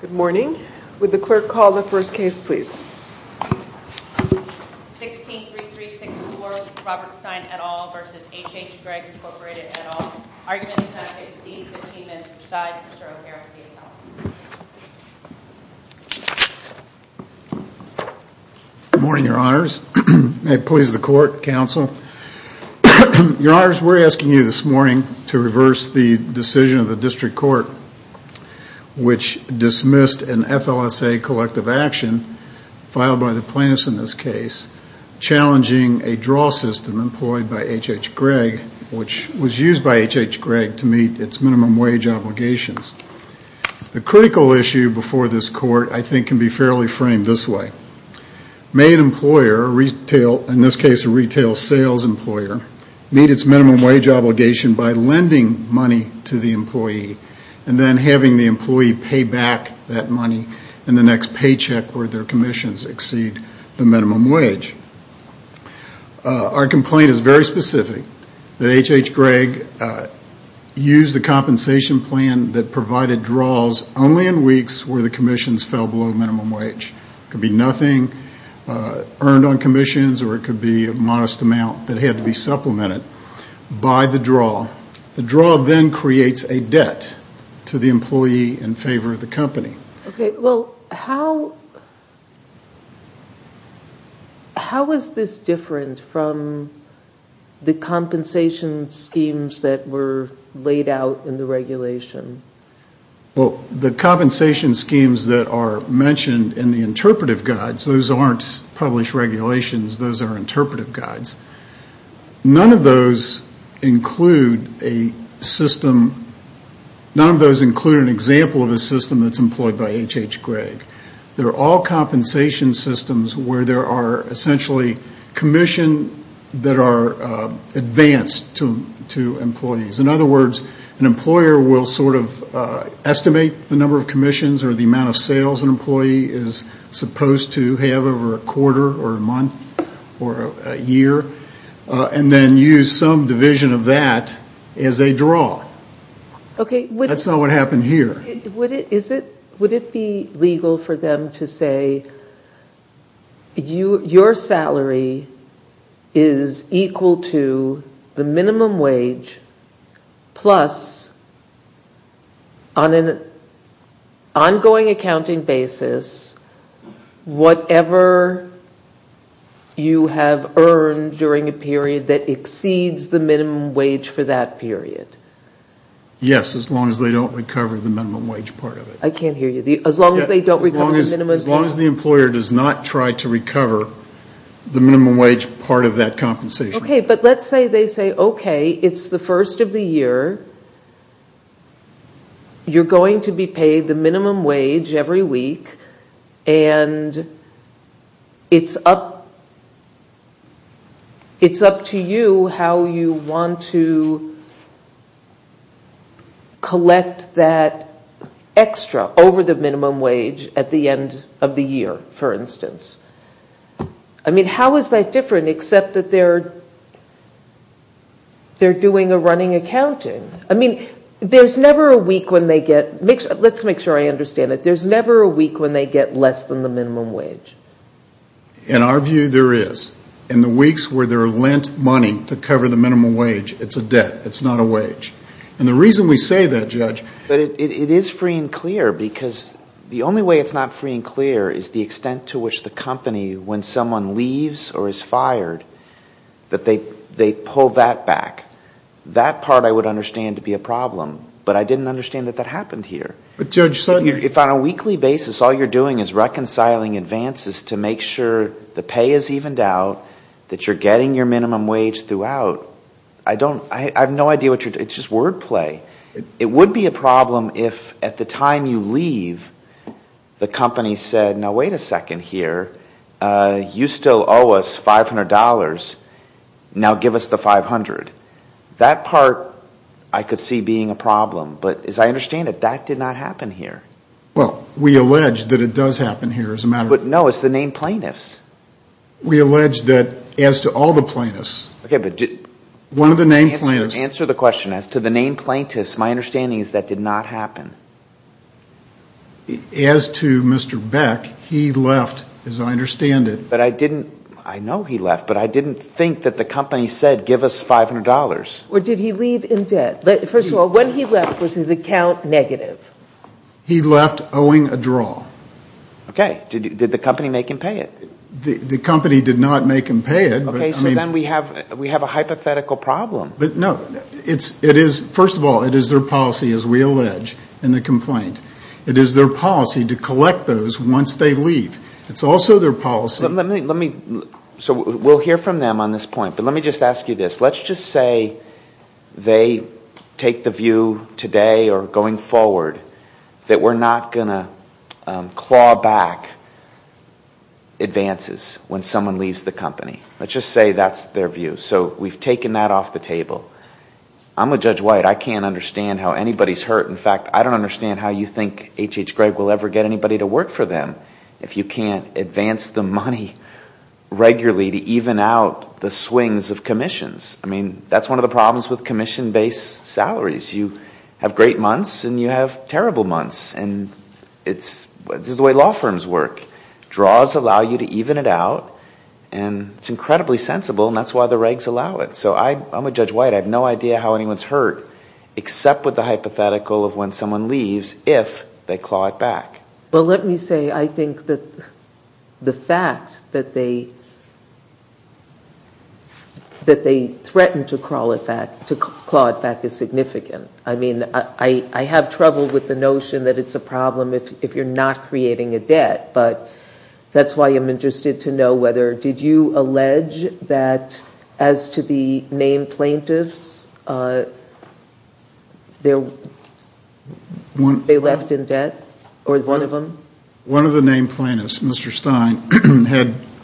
Good morning. Would the clerk call the first case, please? 16-3364, Robert Stein et al. v. Hhgregg Incorporated et al. Arguments not to exceed 15 minutes per side. Mr. O'Hara for the account. Good morning, Your Honors. May it please the Court, Counsel. Your Honors, we're asking you this morning to reverse the decision of the District Court, which dismissed an FLSA collective action filed by the plaintiffs in this case, challenging a draw system employed by H.H. Gregg, which was used by H.H. Gregg to meet its minimum wage obligations. The critical issue before this Court, I think, can be fairly framed this way. May an employer, in this case a retail sales employer, meet its minimum wage obligation by lending money to the employee and then having the employee pay back that money in the next paycheck where their commissions exceed the minimum wage. Our complaint is very specific, that H.H. Gregg used the compensation plan that provided draws only in weeks where the commissions fell below minimum wage. It could be nothing earned on commissions or it could be a modest amount that had to be supplemented by the draw. The draw then creates a debt to the employee in favor of the company. Okay. Well, how is this different from the compensation schemes that were laid out in the regulation? Well, the compensation schemes that are mentioned in the interpretive guides, those aren't published regulations, those are interpretive guides. None of those include a system, none of those include an example of a system that's employed by H.H. Gregg. They're all compensation systems where there are essentially commission that are advanced to employees. In other words, an employer will sort of estimate the number of commissions or the amount of sales an employee is supposed to have over a quarter or a month or a year and then use some division of that as a draw. Okay. That's not what happened here. Would it be legal for them to say your salary is equal to the minimum wage plus on an ongoing accounting basis whatever you have earned during a period that exceeds the minimum wage for that period? Yes, as long as they don't recover the minimum wage part of it. I can't hear you. As long as they don't recover the minimum wage. As long as the employer does not try to recover the minimum wage part of that compensation. Okay. But let's say they say, okay, it's the first of the year, you're going to be paid the minimum wage every week and it's up to you how you want to collect that extra over the minimum wage at the end of the year, for instance. I mean, how is that different except that they're doing a running accounting? I mean, there's never a week when they get, let's make sure I understand it, there's never a week when they get less than the minimum wage. In our view, there is. In the weeks where they're lent money to cover the minimum wage, it's a debt. It's not a wage. And the reason we say that, Judge. But it is free and clear because the only way it's not free and clear is the extent to which the company, when someone leaves or is fired, that they pull that back. That part I would understand to be a problem, but I didn't understand that that happened here. If on a weekly basis all you're doing is reconciling advances to make sure the pay is evened out, that you're getting your minimum wage throughout, I don't, I have no idea what you're, it's just word play. It would be a problem if at the time you leave, the company said, now wait a second here. You still owe us $500. Now give us the 500. That part I could see being a problem, but as I understand it, that did not happen here. Well, we allege that it does happen here. But no, it's the named plaintiffs. We allege that as to all the plaintiffs, one of the named plaintiffs. Answer the question. As to the named plaintiffs, my understanding is that did not happen. As to Mr. Beck, he left, as I understand it. I know he left, but I didn't think that the company said give us $500. Or did he leave in debt? First of all, when he left, was his account negative? He left owing a draw. Okay. Did the company make him pay it? The company did not make him pay it. Okay, so then we have a hypothetical problem. No, it is, first of all, it is their policy, as we allege in the complaint. It is their policy to collect those once they leave. It's also their policy. Let me, so we'll hear from them on this point, but let me just ask you this. Let's just say they take the view today or going forward that we're not going to claw back advances when someone leaves the company. Let's just say that's their view. So we've taken that off the table. I'm a Judge White. I can't understand how anybody's hurt. In fact, I don't understand how you think H.H. Gregg will ever get anybody to work for them. If you can't advance the money regularly to even out the swings of commissions. I mean, that's one of the problems with commission-based salaries. You have great months and you have terrible months, and this is the way law firms work. Draws allow you to even it out, and it's incredibly sensible, and that's why the regs allow it. So I'm a Judge White. I have no idea how anyone's hurt except with the hypothetical of when someone leaves if they claw it back. Well, let me say I think that the fact that they threatened to claw it back is significant. I mean, I have trouble with the notion that it's a problem if you're not creating a debt, but that's why I'm interested to know whether did you allege that as to the named plaintiffs, they left in debt or one of them? One of the named plaintiffs, Mr. Stein,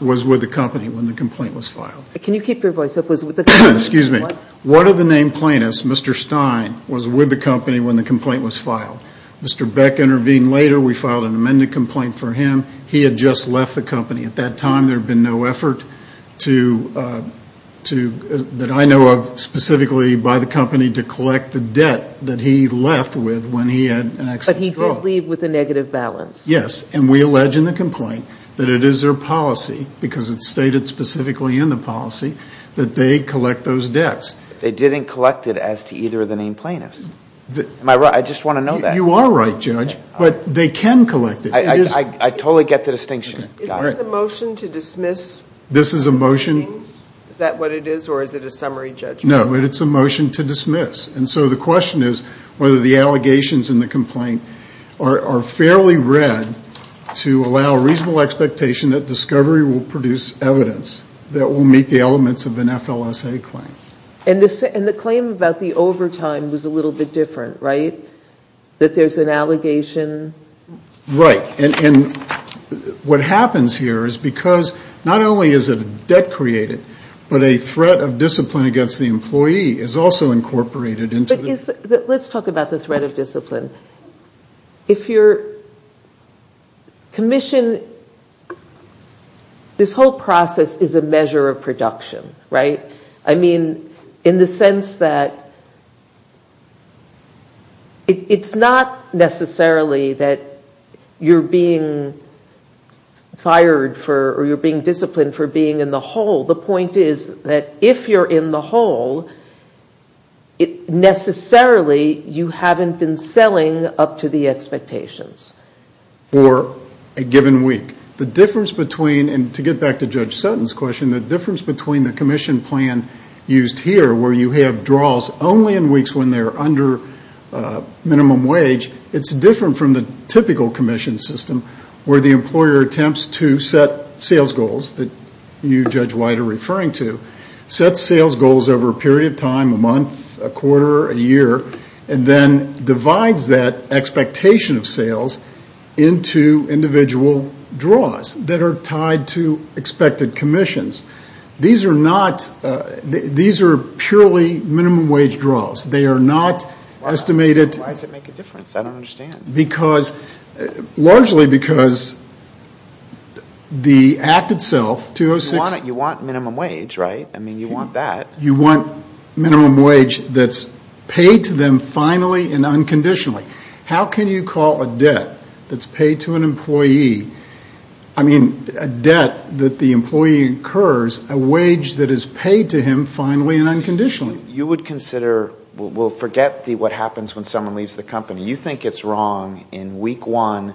was with the company when the complaint was filed. Can you keep your voice up? Excuse me. One of the named plaintiffs, Mr. Stein, was with the company when the complaint was filed. Mr. Beck intervened later. We filed an amendment complaint for him. He had just left the company. At that time, there had been no effort that I know of specifically by the company to collect the debt that he left with when he had an accident. But he did leave with a negative balance. Yes, and we allege in the complaint that it is their policy, because it's stated specifically in the policy, that they collect those debts. They didn't collect it as to either of the named plaintiffs. Am I right? I just want to know that. You are right, Judge, but they can collect it. I totally get the distinction. Is this a motion to dismiss names? This is a motion. Is that what it is, or is it a summary judgment? No, but it's a motion to dismiss. And so the question is whether the allegations in the complaint are fairly read to allow reasonable expectation that discovery will produce evidence that will meet the elements of an FLSA claim. And the claim about the overtime was a little bit different, right? That there's an allegation? Right, and what happens here is because not only is a debt created, but a threat of discipline against the employee is also incorporated. Let's talk about the threat of discipline. If you're commissioned, this whole process is a measure of production, right? I mean, in the sense that it's not necessarily that you're being fired for or you're being disciplined for being in the hole. The point is that if you're in the hole, necessarily you haven't been selling up to the expectations. For a given week. And to get back to Judge Sutton's question, the difference between the commission plan used here where you have draws only in weeks when they're under minimum wage, it's different from the typical commission system where the employer attempts to set sales goals that you, Judge White, are referring to. Sets sales goals over a period of time, a month, a quarter, a year, and then divides that expectation of sales into individual draws that are tied to expected commissions. These are not, these are purely minimum wage draws. They are not estimated. Why does it make a difference? I don't understand. Because, largely because the act itself, 206. You want minimum wage, right? I mean, you want that. You want minimum wage that's paid to them finally and unconditionally. How can you call a debt that's paid to an employee, I mean, a debt that the employee incurs a wage that is paid to him finally and unconditionally? You would consider, well, forget what happens when someone leaves the company. You think it's wrong. In week one,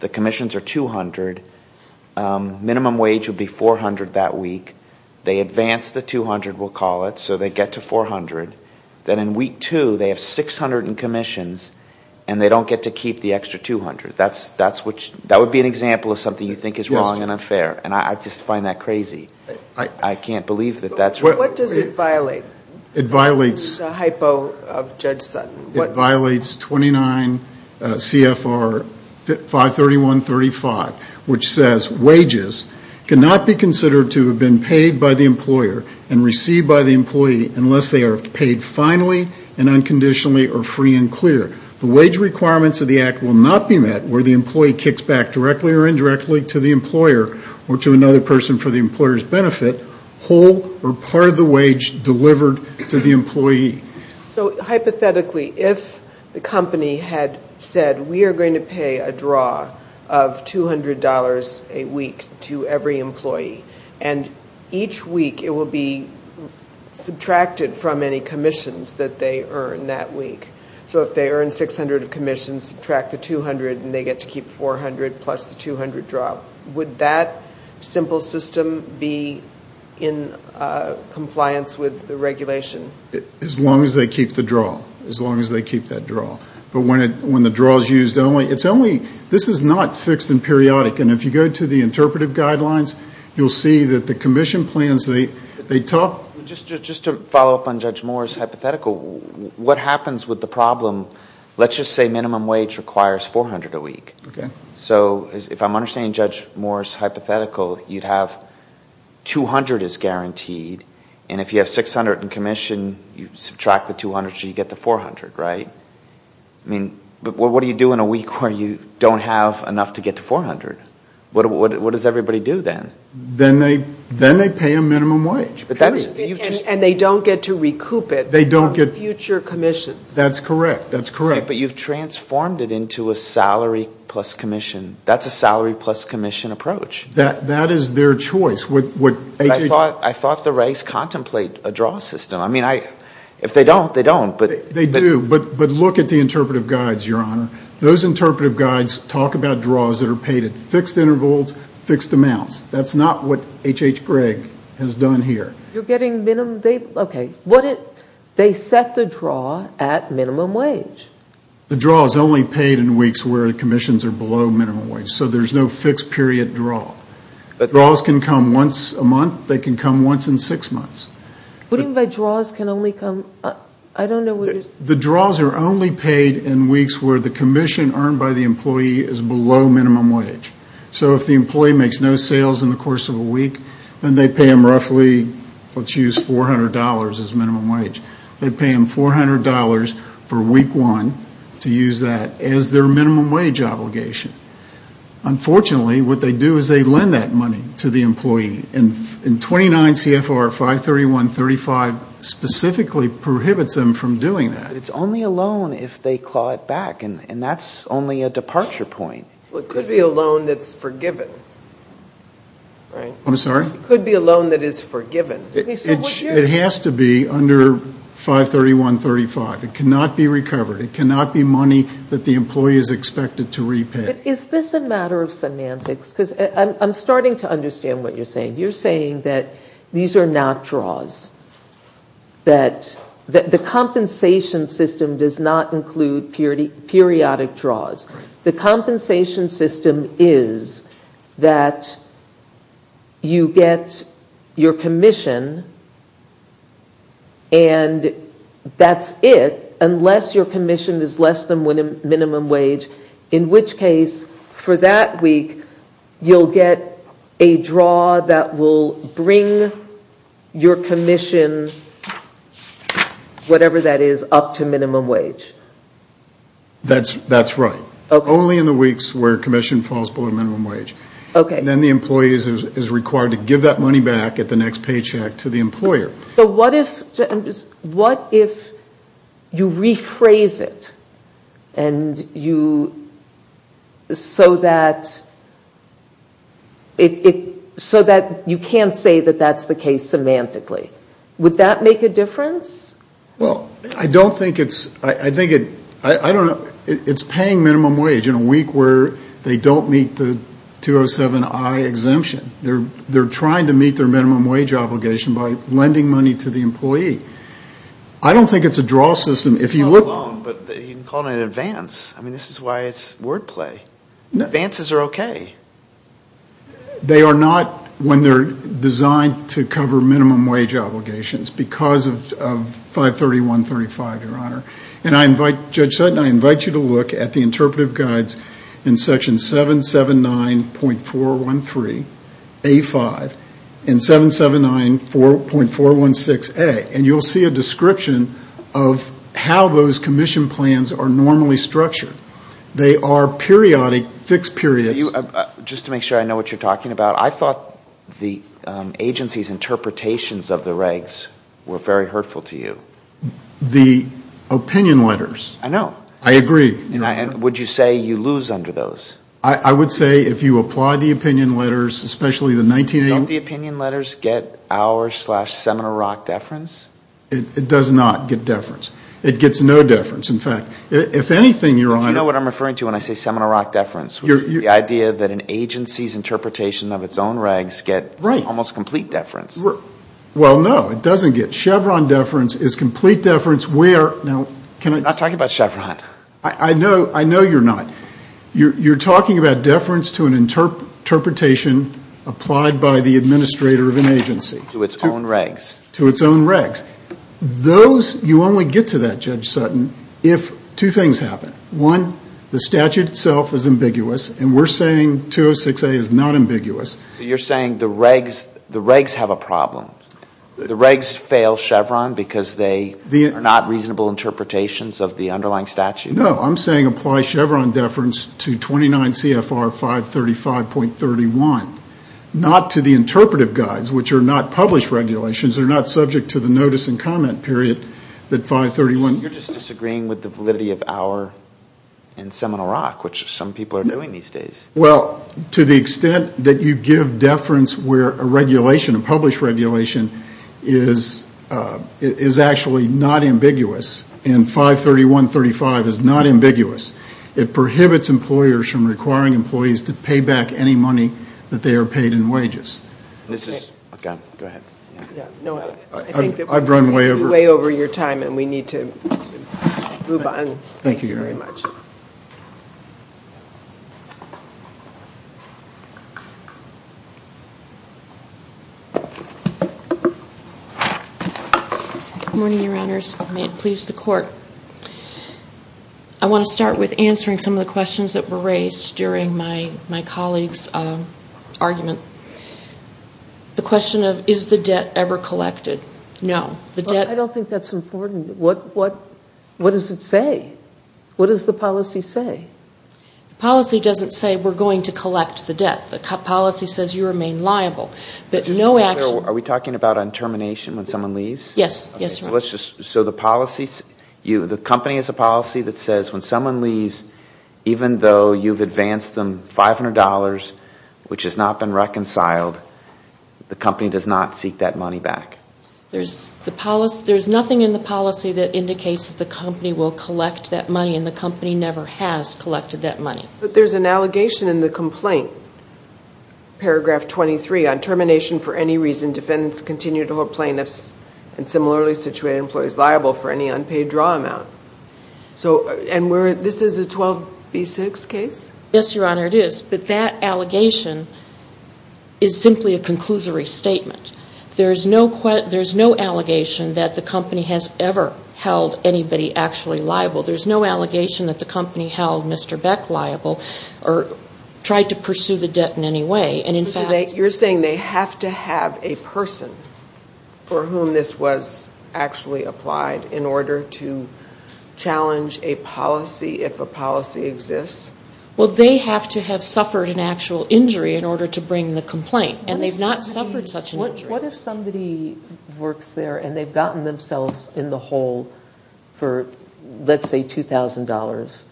the commissions are $200. Minimum wage would be $400 that week. They advance the $200, we'll call it, so they get to $400. Then in week two, they have $600 in commissions, and they don't get to keep the extra $200. That would be an example of something you think is wrong and unfair, and I just find that crazy. I can't believe that that's wrong. What does it violate? It violates the hypo of Judge Sutton. It violates 29 CFR 531.35, which says wages cannot be considered to have been paid by the employer and received by the employee unless they are paid finally and unconditionally or free and clear. The wage requirements of the act will not be met where the employee kicks back directly or indirectly to the employer or to another person for the employer's benefit, whole or part of the wage delivered to the employee. So hypothetically, if the company had said, we are going to pay a draw of $200 a week to every employee, and each week it will be subtracted from any commissions that they earn that week. So if they earn $600 of commissions, subtract the $200, and they get to keep $400 plus the $200 draw, would that simple system be in compliance with the regulation? As long as they keep the draw, as long as they keep that draw. But when the draw is used only, it's only, this is not fixed and periodic. And if you go to the interpretive guidelines, you'll see that the commission plans, they talk. Just to follow up on Judge Moore's hypothetical, what happens with the problem, let's just say minimum wage requires $400 a week. So if I'm understanding Judge Moore's hypothetical, you'd have $200 is guaranteed, and if you have $600 in commission, you subtract the $200, so you get the $400, right? But what do you do in a week where you don't have enough to get to $400? What does everybody do then? Then they pay a minimum wage, period. And they don't get to recoup it on future commissions. That's correct. That's correct. But you've transformed it into a salary plus commission. That's a salary plus commission approach. That is their choice. I thought the regs contemplate a draw system. I mean, if they don't, they don't. They do. But look at the interpretive guides, Your Honor. Those interpretive guides talk about draws that are paid at fixed intervals, fixed amounts. That's not what H.H. Gregg has done here. You're getting minimum, okay. They set the draw at minimum wage. The draw is only paid in weeks where commissions are below minimum wage. So there's no fixed period draw. Draws can come once a month. They can come once in six months. What do you mean by draws can only come? I don't know what you're saying. The draws are only paid in weeks where the commission earned by the employee is below minimum wage. So if the employee makes no sales in the course of a week, then they pay him roughly, let's use $400 as minimum wage. They pay him $400 for week one to use that as their minimum wage obligation. Unfortunately, what they do is they lend that money to the employee. And 29 CFR 531.35 specifically prohibits them from doing that. But it's only a loan if they claw it back, and that's only a departure point. It could be a loan that's forgiven, right? I'm sorry? It could be a loan that is forgiven. It has to be under 531.35. It cannot be recovered. It cannot be money that the employee is expected to repay. Is this a matter of semantics? Because I'm starting to understand what you're saying. You're saying that these are not draws, that the compensation system does not include periodic draws. The compensation system is that you get your commission, and that's it, unless your commission is less than minimum wage. In which case, for that week, you'll get a draw that will bring your commission, whatever that is, up to minimum wage. That's right. Only in the weeks where commission falls below minimum wage. Then the employee is required to give that money back at the next paycheck to the employer. So what if you rephrase it so that you can't say that that's the case semantically? Would that make a difference? Well, I don't think it's paying minimum wage in a week where they don't meet the 207I exemption. They're trying to meet their minimum wage obligation by lending money to the employee. I don't think it's a draw system. It's not a loan, but you can call it an advance. I mean, this is why it's wordplay. Advances are okay. They are not when they're designed to cover minimum wage obligations because of 531.35, Your Honor. And Judge Sutton, I invite you to look at the interpretive guides in section 779.413A5 and 779.416A, and you'll see a description of how those commission plans are normally structured. They are periodic, fixed periods. Just to make sure I know what you're talking about, I thought the agency's interpretations of the regs were very hurtful to you. The opinion letters. I know. I agree. And would you say you lose under those? I would say if you apply the opinion letters, especially the 1980s. Don't the opinion letters get our seminal rock deference? It does not get deference. It gets no deference. In fact, if anything, Your Honor. Do you know what I'm referring to when I say seminal rock deference? The idea that an agency's interpretation of its own regs get almost complete deference. Well, no, it doesn't get. Chevron deference is complete deference where? I'm not talking about Chevron. I know you're not. You're talking about deference to an interpretation applied by the administrator of an agency. To its own regs. To its own regs. Those, you only get to that, Judge Sutton, if two things happen. One, the statute itself is ambiguous, and we're saying 206A is not ambiguous. You're saying the regs have a problem? The regs fail Chevron because they are not reasonable interpretations of the underlying statute? No. I'm saying apply Chevron deference to 29 CFR 535.31. Not to the interpretive guides, which are not published regulations. They're not subject to the notice and comment period that 531. You're just disagreeing with the validity of our and seminal rock, which some people are doing these days. Well, to the extent that you give deference where a regulation, a published regulation, is actually not ambiguous, and 531.35 is not ambiguous, it prohibits employers from requiring employees to pay back any money that they are paid in wages. Go ahead. I've run way over your time, and we need to move on. Thank you very much. Good morning, Your Honors. May it please the Court. I want to start with answering some of the questions that were raised during my colleague's argument. The question of is the debt ever collected? No. I don't think that's important. What does it say? What does the policy say? The policy doesn't say we're going to collect the debt. The policy says you remain liable. Are we talking about on termination when someone leaves? Yes. So the company has a policy that says when someone leaves, even though you've advanced them $500, which has not been reconciled, the company does not seek that money back. There's nothing in the policy that indicates that the company will collect that money, and the company never has collected that money. But there's an allegation in the complaint, paragraph 23, on termination for any reason defendants continue to hold plaintiffs and similarly situated employees liable for any unpaid draw amount. And this is a 12B6 case? Yes, Your Honor, it is. But that allegation is simply a conclusory statement. There's no allegation that the company has ever held anybody actually liable. There's no allegation that the company held Mr. Beck liable or tried to pursue the debt in any way. You're saying they have to have a person for whom this was actually applied in order to challenge a policy if a policy exists? Well, they have to have suffered an actual injury in order to bring the complaint, and they've not suffered such an injury. What if somebody works there and they've gotten themselves in the hole for, let's say, $2,000,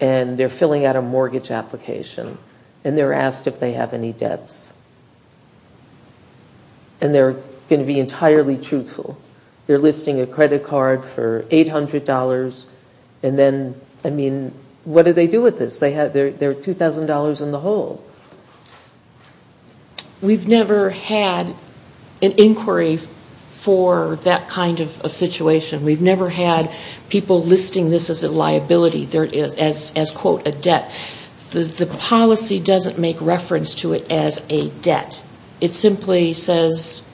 and they're filling out a mortgage application, and they're asked if they have any debts. And they're going to be entirely truthful. They're listing a credit card for $800, and then, I mean, what do they do with this? They're $2,000 in the hole. We've never had an inquiry for that kind of situation. We've never had people listing this as a liability, as, quote, a debt. The policy doesn't make reference to it as a debt. It simply says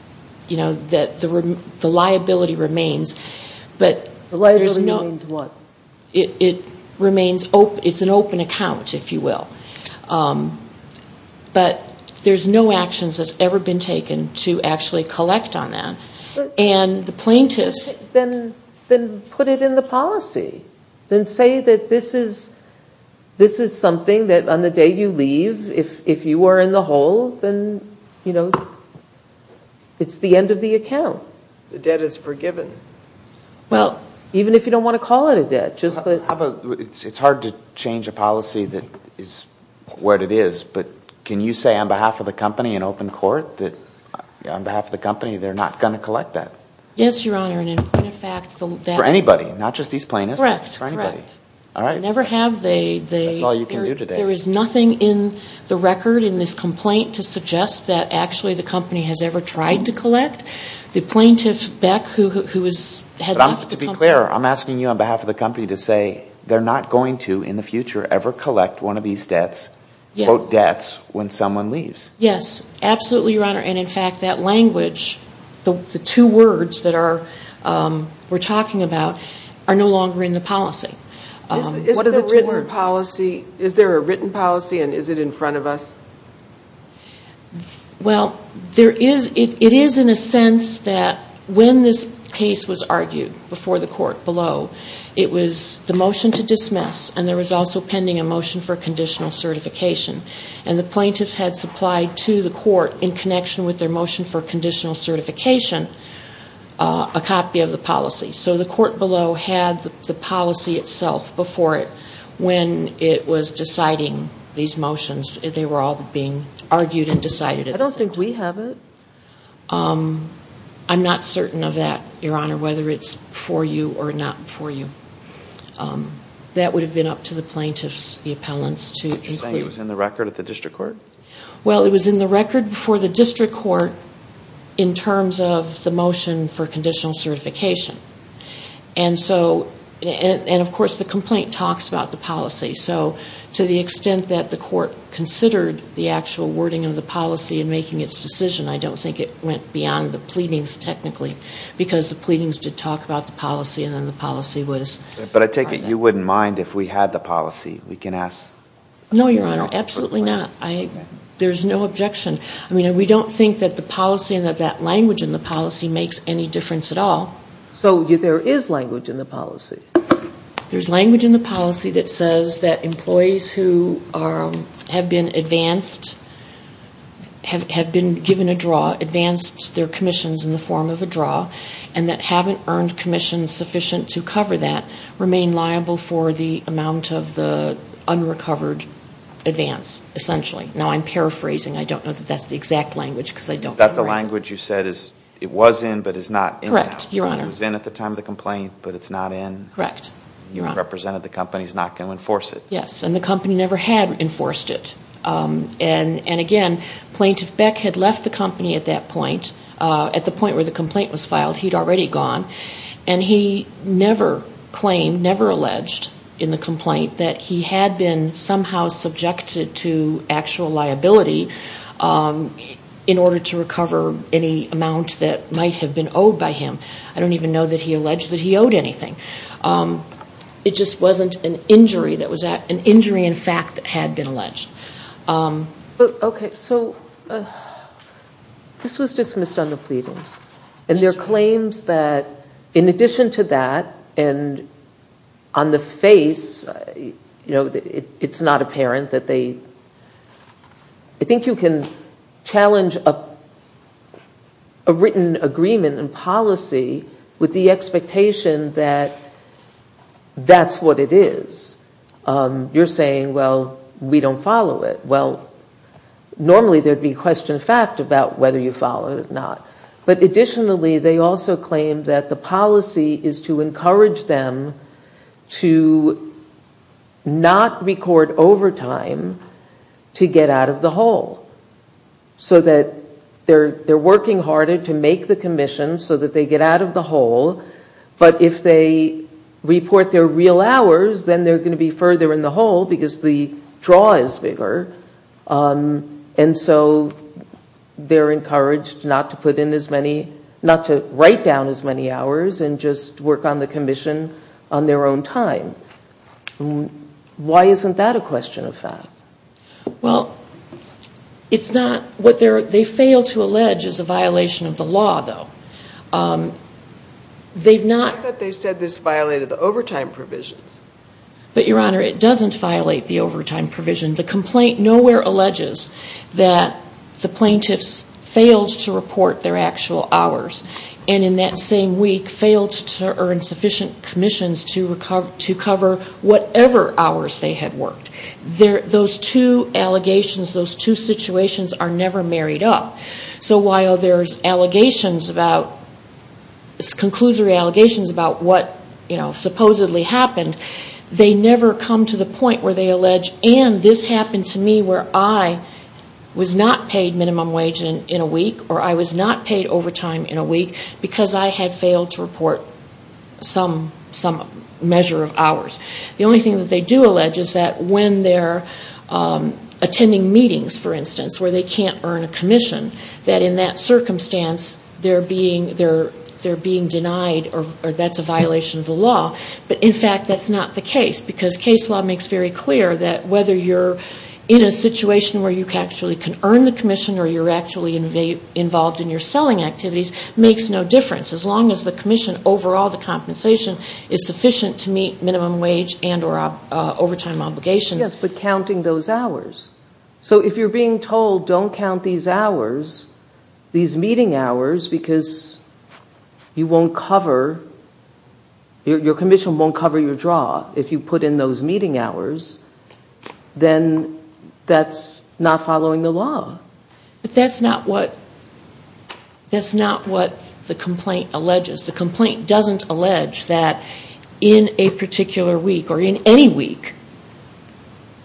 that the liability remains. The liability remains what? It's an open account, if you will. But there's no actions that's ever been taken to actually collect on that. Then put it in the policy. Then say that this is something that on the day you leave, if you were in the hole, then it's the end of the account. The debt is forgiven. Well, even if you don't want to call it a debt. It's hard to change a policy that is what it is, but can you say on behalf of the company in open court that on behalf of the company, they're not going to collect that? Yes, Your Honor, and in point of fact, that For anybody, not just these plaintiffs? Correct, correct. All right. They never have. That's all you can do today. There is nothing in the record in this complaint to suggest that actually the company has ever tried to collect. The plaintiff, Beck, who had left the company But to be clear, I'm asking you on behalf of the company to say they're not going to, in the future, ever collect one of these debts, quote, debts, when someone leaves. Yes, absolutely, Your Honor, and in fact, that language, the two words that we're talking about, are no longer in the policy. Is there a written policy and is it in front of us? Well, it is in a sense that when this case was argued before the court below, it was the motion to dismiss and there was also pending a motion for conditional certification. And the plaintiffs had supplied to the court, in connection with their motion for conditional certification, a copy of the policy. So the court below had the policy itself before it. When it was deciding these motions, they were all being argued and decided. I don't think we have it. I'm not certain of that, Your Honor, whether it's for you or not for you. That would have been up to the plaintiffs, the appellants, to include. Are you saying it was in the record at the district court? Well, it was in the record before the district court in terms of the motion for conditional certification. And, of course, the complaint talks about the policy. So to the extent that the court considered the actual wording of the policy in making its decision, I don't think it went beyond the pleadings, technically, because the pleadings did talk about the policy and then the policy was... But I take it you wouldn't mind if we had the policy? We can ask... No, Your Honor, absolutely not. There's no objection. I mean, we don't think that the policy and that that language in the policy makes any difference at all. So there is language in the policy? There's language in the policy that says that employees who have been advanced, have been given a draw, advanced their commissions in the form of a draw, and that haven't earned commissions sufficient to cover that, remain liable for the amount of the unrecovered advance, essentially. Now, I'm paraphrasing. I don't know that that's the exact language because I don't memorize it. Is that the language you said is, it was in but is not in now? Correct, Your Honor. It was in at the time of the complaint, but it's not in? Correct. You have represented the company. It's not going to enforce it. Yes, and the company never had enforced it. And again, Plaintiff Beck had left the company at that point. At the point where the complaint was filed, he'd already gone. And he never claimed, never alleged in the complaint that he had been somehow subjected to actual liability in order to recover any amount that might have been owed by him. I don't even know that he alleged that he owed anything. It just wasn't an injury. It was an injury in fact that had been alleged. This was dismissed on the pleadings. Yes. That's what it is. You're saying, well, we don't follow it. Well, normally there'd be question of fact about whether you follow it or not. But additionally, they also claim that the policy is to encourage them to not record overtime to get out of the hole. So that they're working harder to make the commission so that they get out of the hole. But if they report their real hours, then they're going to be further in the hole because the draw is bigger. And so they're encouraged not to put in as many, not to write down as many hours and just work on the commission on their own time. Why isn't that a question of fact? Well, it's not. What they fail to allege is a violation of the law though. I thought they said this violated the overtime provisions. But Your Honor, it doesn't violate the overtime provisions. The complaint nowhere alleges that the plaintiffs failed to report their actual hours. And in that same week, failed to earn sufficient commissions to cover whatever hours they had worked. Those two allegations, those two situations are never married up. So while there's allegations about, conclusory allegations about what supposedly happened, they never come to the point where they allege, and this happened to me where I was not paid minimum wage in a week, or I was not paid overtime in a week because I had failed to report some measure of hours. The only thing that they do allege is that when they're attending meetings, for instance, where they can't earn a commission, that in that circumstance they're being denied or that's a violation of the law. But in fact, that's not the case. Because case law makes very clear that whether you're in a situation where you actually can earn the commission or you're actually involved in your selling activities makes no difference. As long as the commission overall, the compensation is sufficient to meet minimum wage and or overtime obligations. Yes, but counting those hours. So if you're being told don't count these hours, these meeting hours, because you won't cover, your commission won't cover your draw if you put in those meeting hours, then that's not following the law. But that's not what the complaint alleges. The complaint doesn't allege that in a particular week or in any week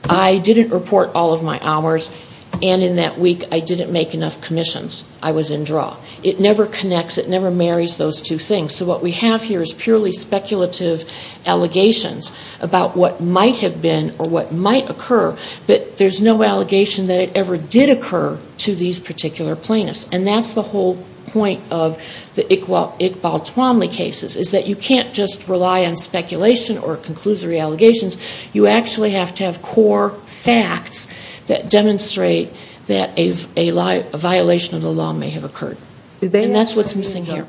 I didn't report all of my hours and in that week I didn't make enough commissions. I was in draw. It never connects. It never marries those two things. So what we have here is purely speculative allegations about what might have been or what might occur, but there's no allegation that it ever did occur to these particular plaintiffs. And that's the whole point of the Iqbal Twanley cases, is that you can't just rely on speculation or conclusory allegations. You actually have to have core facts that demonstrate that a violation of the law may have occurred. And that's what's missing here.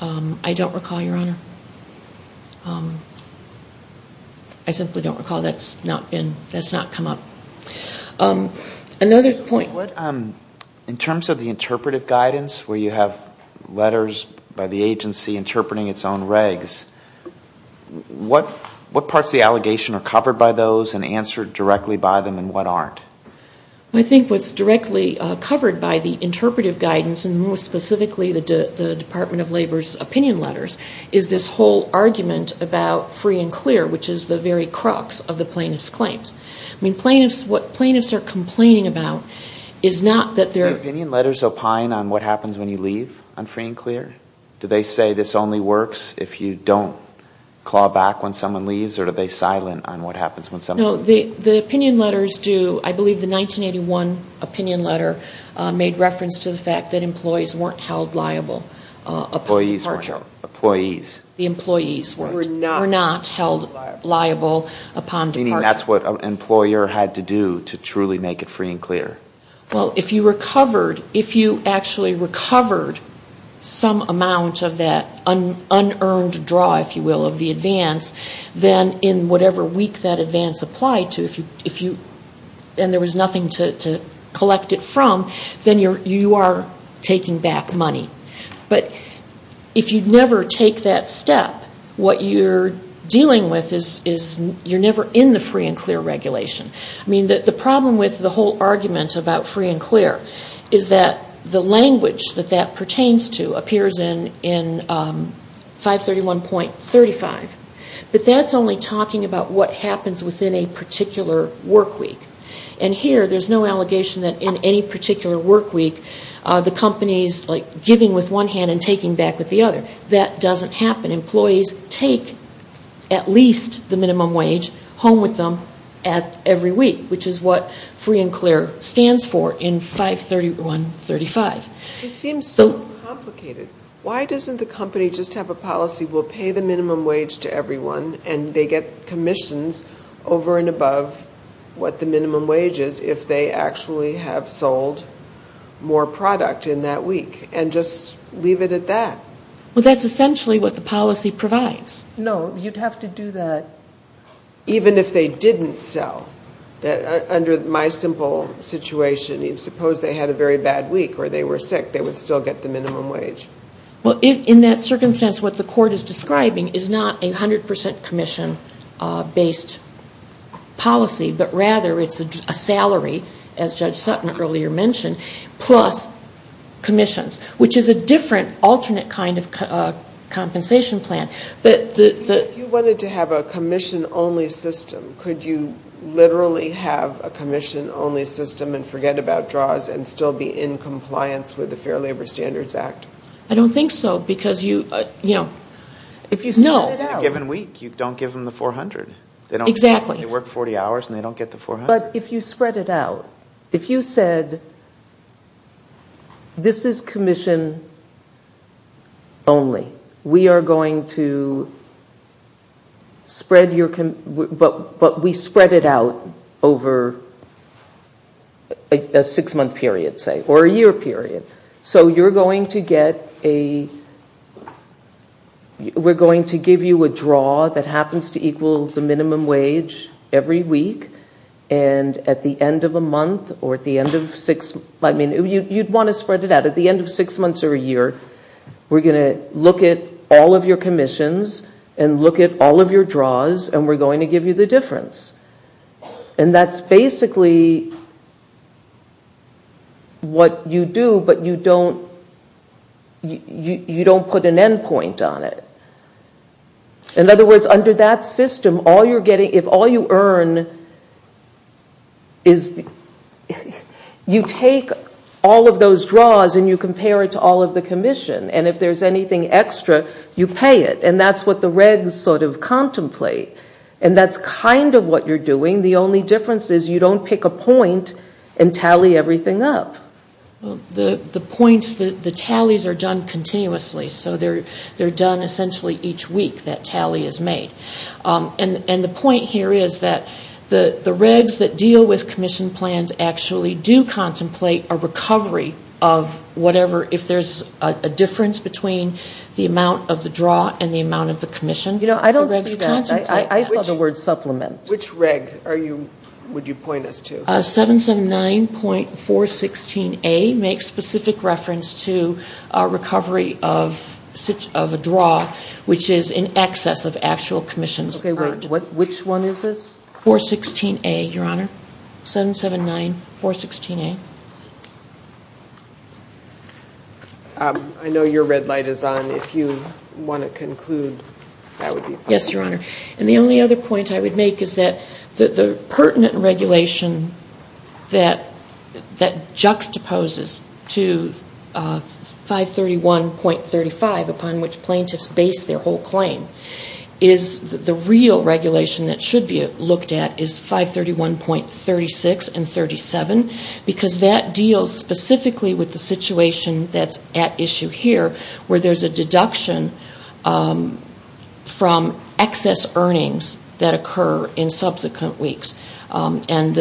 I don't recall, Your Honor. I simply don't recall that's not come up. Another point. In terms of the interpretive guidance where you have letters by the agency interpreting its own regs, what parts of the allegation are covered by those and answered directly by them and what aren't? I think what's directly covered by the interpretive guidance, and more specifically the Department of Labor's opinion letters, is this whole argument about free and clear, which is the very crux of the plaintiff's claims. I mean, what plaintiffs are complaining about is not that they're ---- Do opinion letters opine on what happens when you leave on free and clear? Do they say this only works if you don't claw back when someone leaves, or are they silent on what happens when someone leaves? No. The opinion letters do. I believe the 1981 opinion letter made reference to the fact that employees weren't held liable upon departure. The employees were not held liable upon departure. Meaning that's what an employer had to do to truly make it free and clear. Well, if you recovered, if you actually recovered some amount of that unearned draw, if you will, of the advance, then in whatever week that advance applied to, and there was nothing to collect it from, then you are taking back money. But if you never take that step, what you're dealing with is you're never in the free and clear regulation. I mean, the problem with the whole argument about free and clear is that the language that that pertains to appears in 531.35, but that's only talking about what happens within a particular work week. And here, there's no allegation that in any particular work week, the company's giving with one hand and taking back with the other. That doesn't happen. Employees take at least the minimum wage home with them every week, which is what free and clear stands for in 531.35. It seems so complicated. Why doesn't the company just have a policy, we'll pay the minimum wage to everyone, and they get commissions over and above what the minimum wage is if they actually have sold more product in that week, and just leave it at that? Well, that's essentially what the policy provides. No, you'd have to do that. Even if they didn't sell, under my simple situation, if suppose they had a very bad week or they were sick, they would still get the minimum wage. Well, in that circumstance, what the court is describing is not a 100% commission-based policy, but rather it's a salary, as Judge Sutton earlier mentioned, plus commissions, which is a different alternate kind of compensation plan. If you wanted to have a commission-only system, could you literally have a commission-only system and forget about draws and still be in compliance with the Fair Labor Standards Act? I don't think so. If you spread it out in a given week, you don't give them the 400. Exactly. They work 40 hours and they don't get the 400. But if you spread it out, if you said this is commission-only, we are going to spread your, but we spread it out over a six-month period, say, or a year period. So you're going to get a, we're going to give you a draw that happens to equal the minimum wage every week, and at the end of a month or at the end of six, I mean, you'd want to spread it out. At the end of six months or a year, we're going to look at all of your commissions and look at all of your draws, and we're going to give you the difference. And that's basically what you do, but you don't put an end point on it. In other words, under that system, if all you earn is, you take all of those draws and you compare it to all of the commission, and if there's anything extra, you pay it. And that's what the regs sort of contemplate. And that's kind of what you're doing. The only difference is you don't pick a point and tally everything up. The points, the tallies are done continuously. So they're done essentially each week, that tally is made. And the point here is that the regs that deal with commission plans actually do contemplate a recovery of whatever, if there's a difference between the amount of the draw and the amount of the commission. I don't see that. I saw the word supplement. Which reg would you point us to? 779.416A makes specific reference to a recovery of a draw, which is in excess of actual commissions. Okay, wait, which one is this? 416A, Your Honor. 779.416A. I know your red light is on. If you want to conclude, that would be fine. Yes, Your Honor. And the only other point I would make is that the pertinent regulation that juxtaposes to 531.35, upon which plaintiffs base their whole claim, is the real regulation that should be looked at is 531.36 and 531.37, because that deals specifically with the situation that's at issue here, where there's a deduction from excess earnings that occur in subsequent weeks. And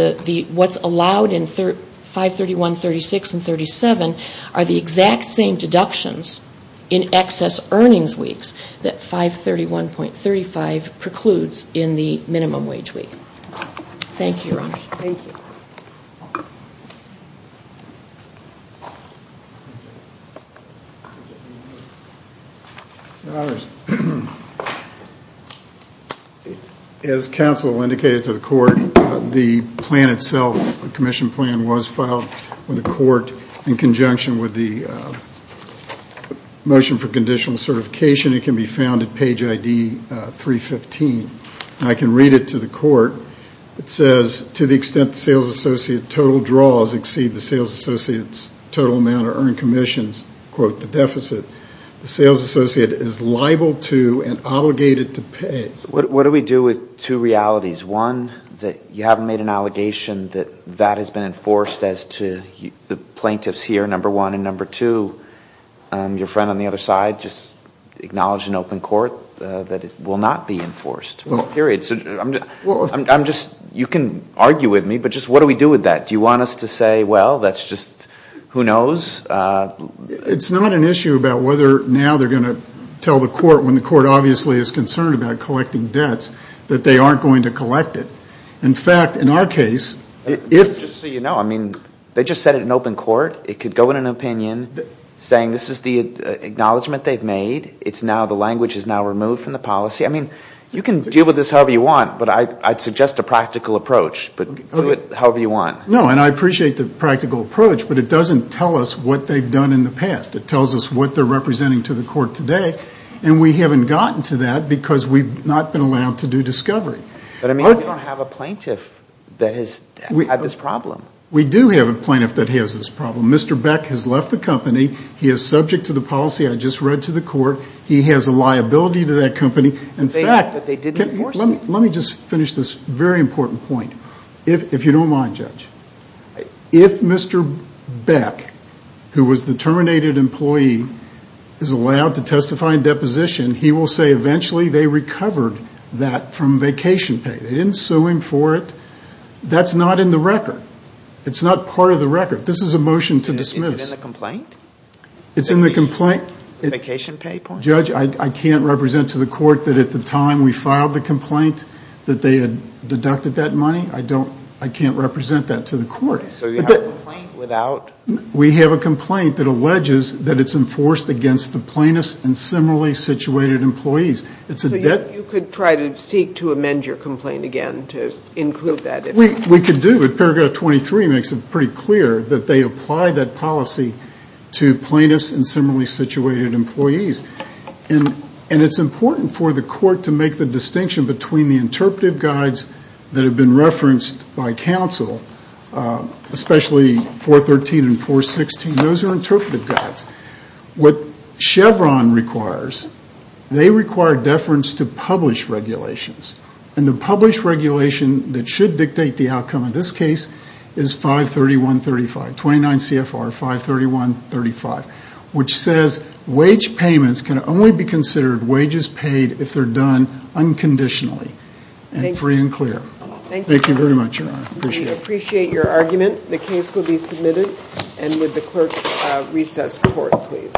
what's allowed in 531.36 and 531.37 are the exact same deductions in excess earnings weeks that 531.35 precludes in the minimum wage week. Thank you, Your Honor. Thank you. Thank you. As counsel indicated to the court, the plan itself, the commission plan, was filed with the court in conjunction with the motion for conditional certification. It can be found at page ID 315. And I can read it to the court. It says, to the extent the sales associate total draws exceed the sales associate's total amount of earned commissions, quote, the deficit, the sales associate is liable to and obligated to pay. What do we do with two realities? One, that you haven't made an allegation that that has been enforced as to the plaintiffs here, number one. And number two, your friend on the other side just acknowledged in open court that it will not be enforced, period. So I'm just, you can argue with me, but just what do we do with that? Do you want us to say, well, that's just, who knows? It's not an issue about whether now they're going to tell the court, when the court obviously is concerned about collecting debts, that they aren't going to collect it. In fact, in our case, if. Just so you know, I mean, they just said it in open court. It could go in an opinion saying this is the acknowledgement they've made. It's now, the language is now removed from the policy. I mean, you can deal with this however you want, but I'd suggest a practical approach. But do it however you want. No, and I appreciate the practical approach, but it doesn't tell us what they've done in the past. It tells us what they're representing to the court today, and we haven't gotten to that because we've not been allowed to do discovery. But I mean, we don't have a plaintiff that has had this problem. We do have a plaintiff that has this problem. Mr. Beck has left the company. He is subject to the policy I just read to the court. He has a liability to that company. In fact, let me just finish this very important point, if you don't mind, Judge. If Mr. Beck, who was the terminated employee, is allowed to testify in deposition, he will say eventually they recovered that from vacation pay. They didn't sue him for it. That's not in the record. It's not part of the record. This is a motion to dismiss. Is it in the complaint? It's in the complaint. Vacation pay? Judge, I can't represent to the court that at the time we filed the complaint that they had deducted that money. I can't represent that to the court. So you have a complaint without? We have a complaint that alleges that it's enforced against the plaintiffs and similarly situated employees. So you could try to seek to amend your complaint again to include that? We could do it. Paragraph 23 makes it pretty clear that they apply that policy to plaintiffs and similarly situated employees. And it's important for the court to make the distinction between the interpretive guides that have been referenced by counsel, especially 413 and 416. Those are interpretive guides. What Chevron requires, they require deference to publish regulations. And the publish regulation that should dictate the outcome of this case is 531.35, 29 CFR 531.35. Which says wage payments can only be considered wages paid if they're done unconditionally and free and clear. Thank you. Thank you very much, Your Honor. I appreciate it. We appreciate your argument. The case will be submitted. And would the clerk recess the court, please.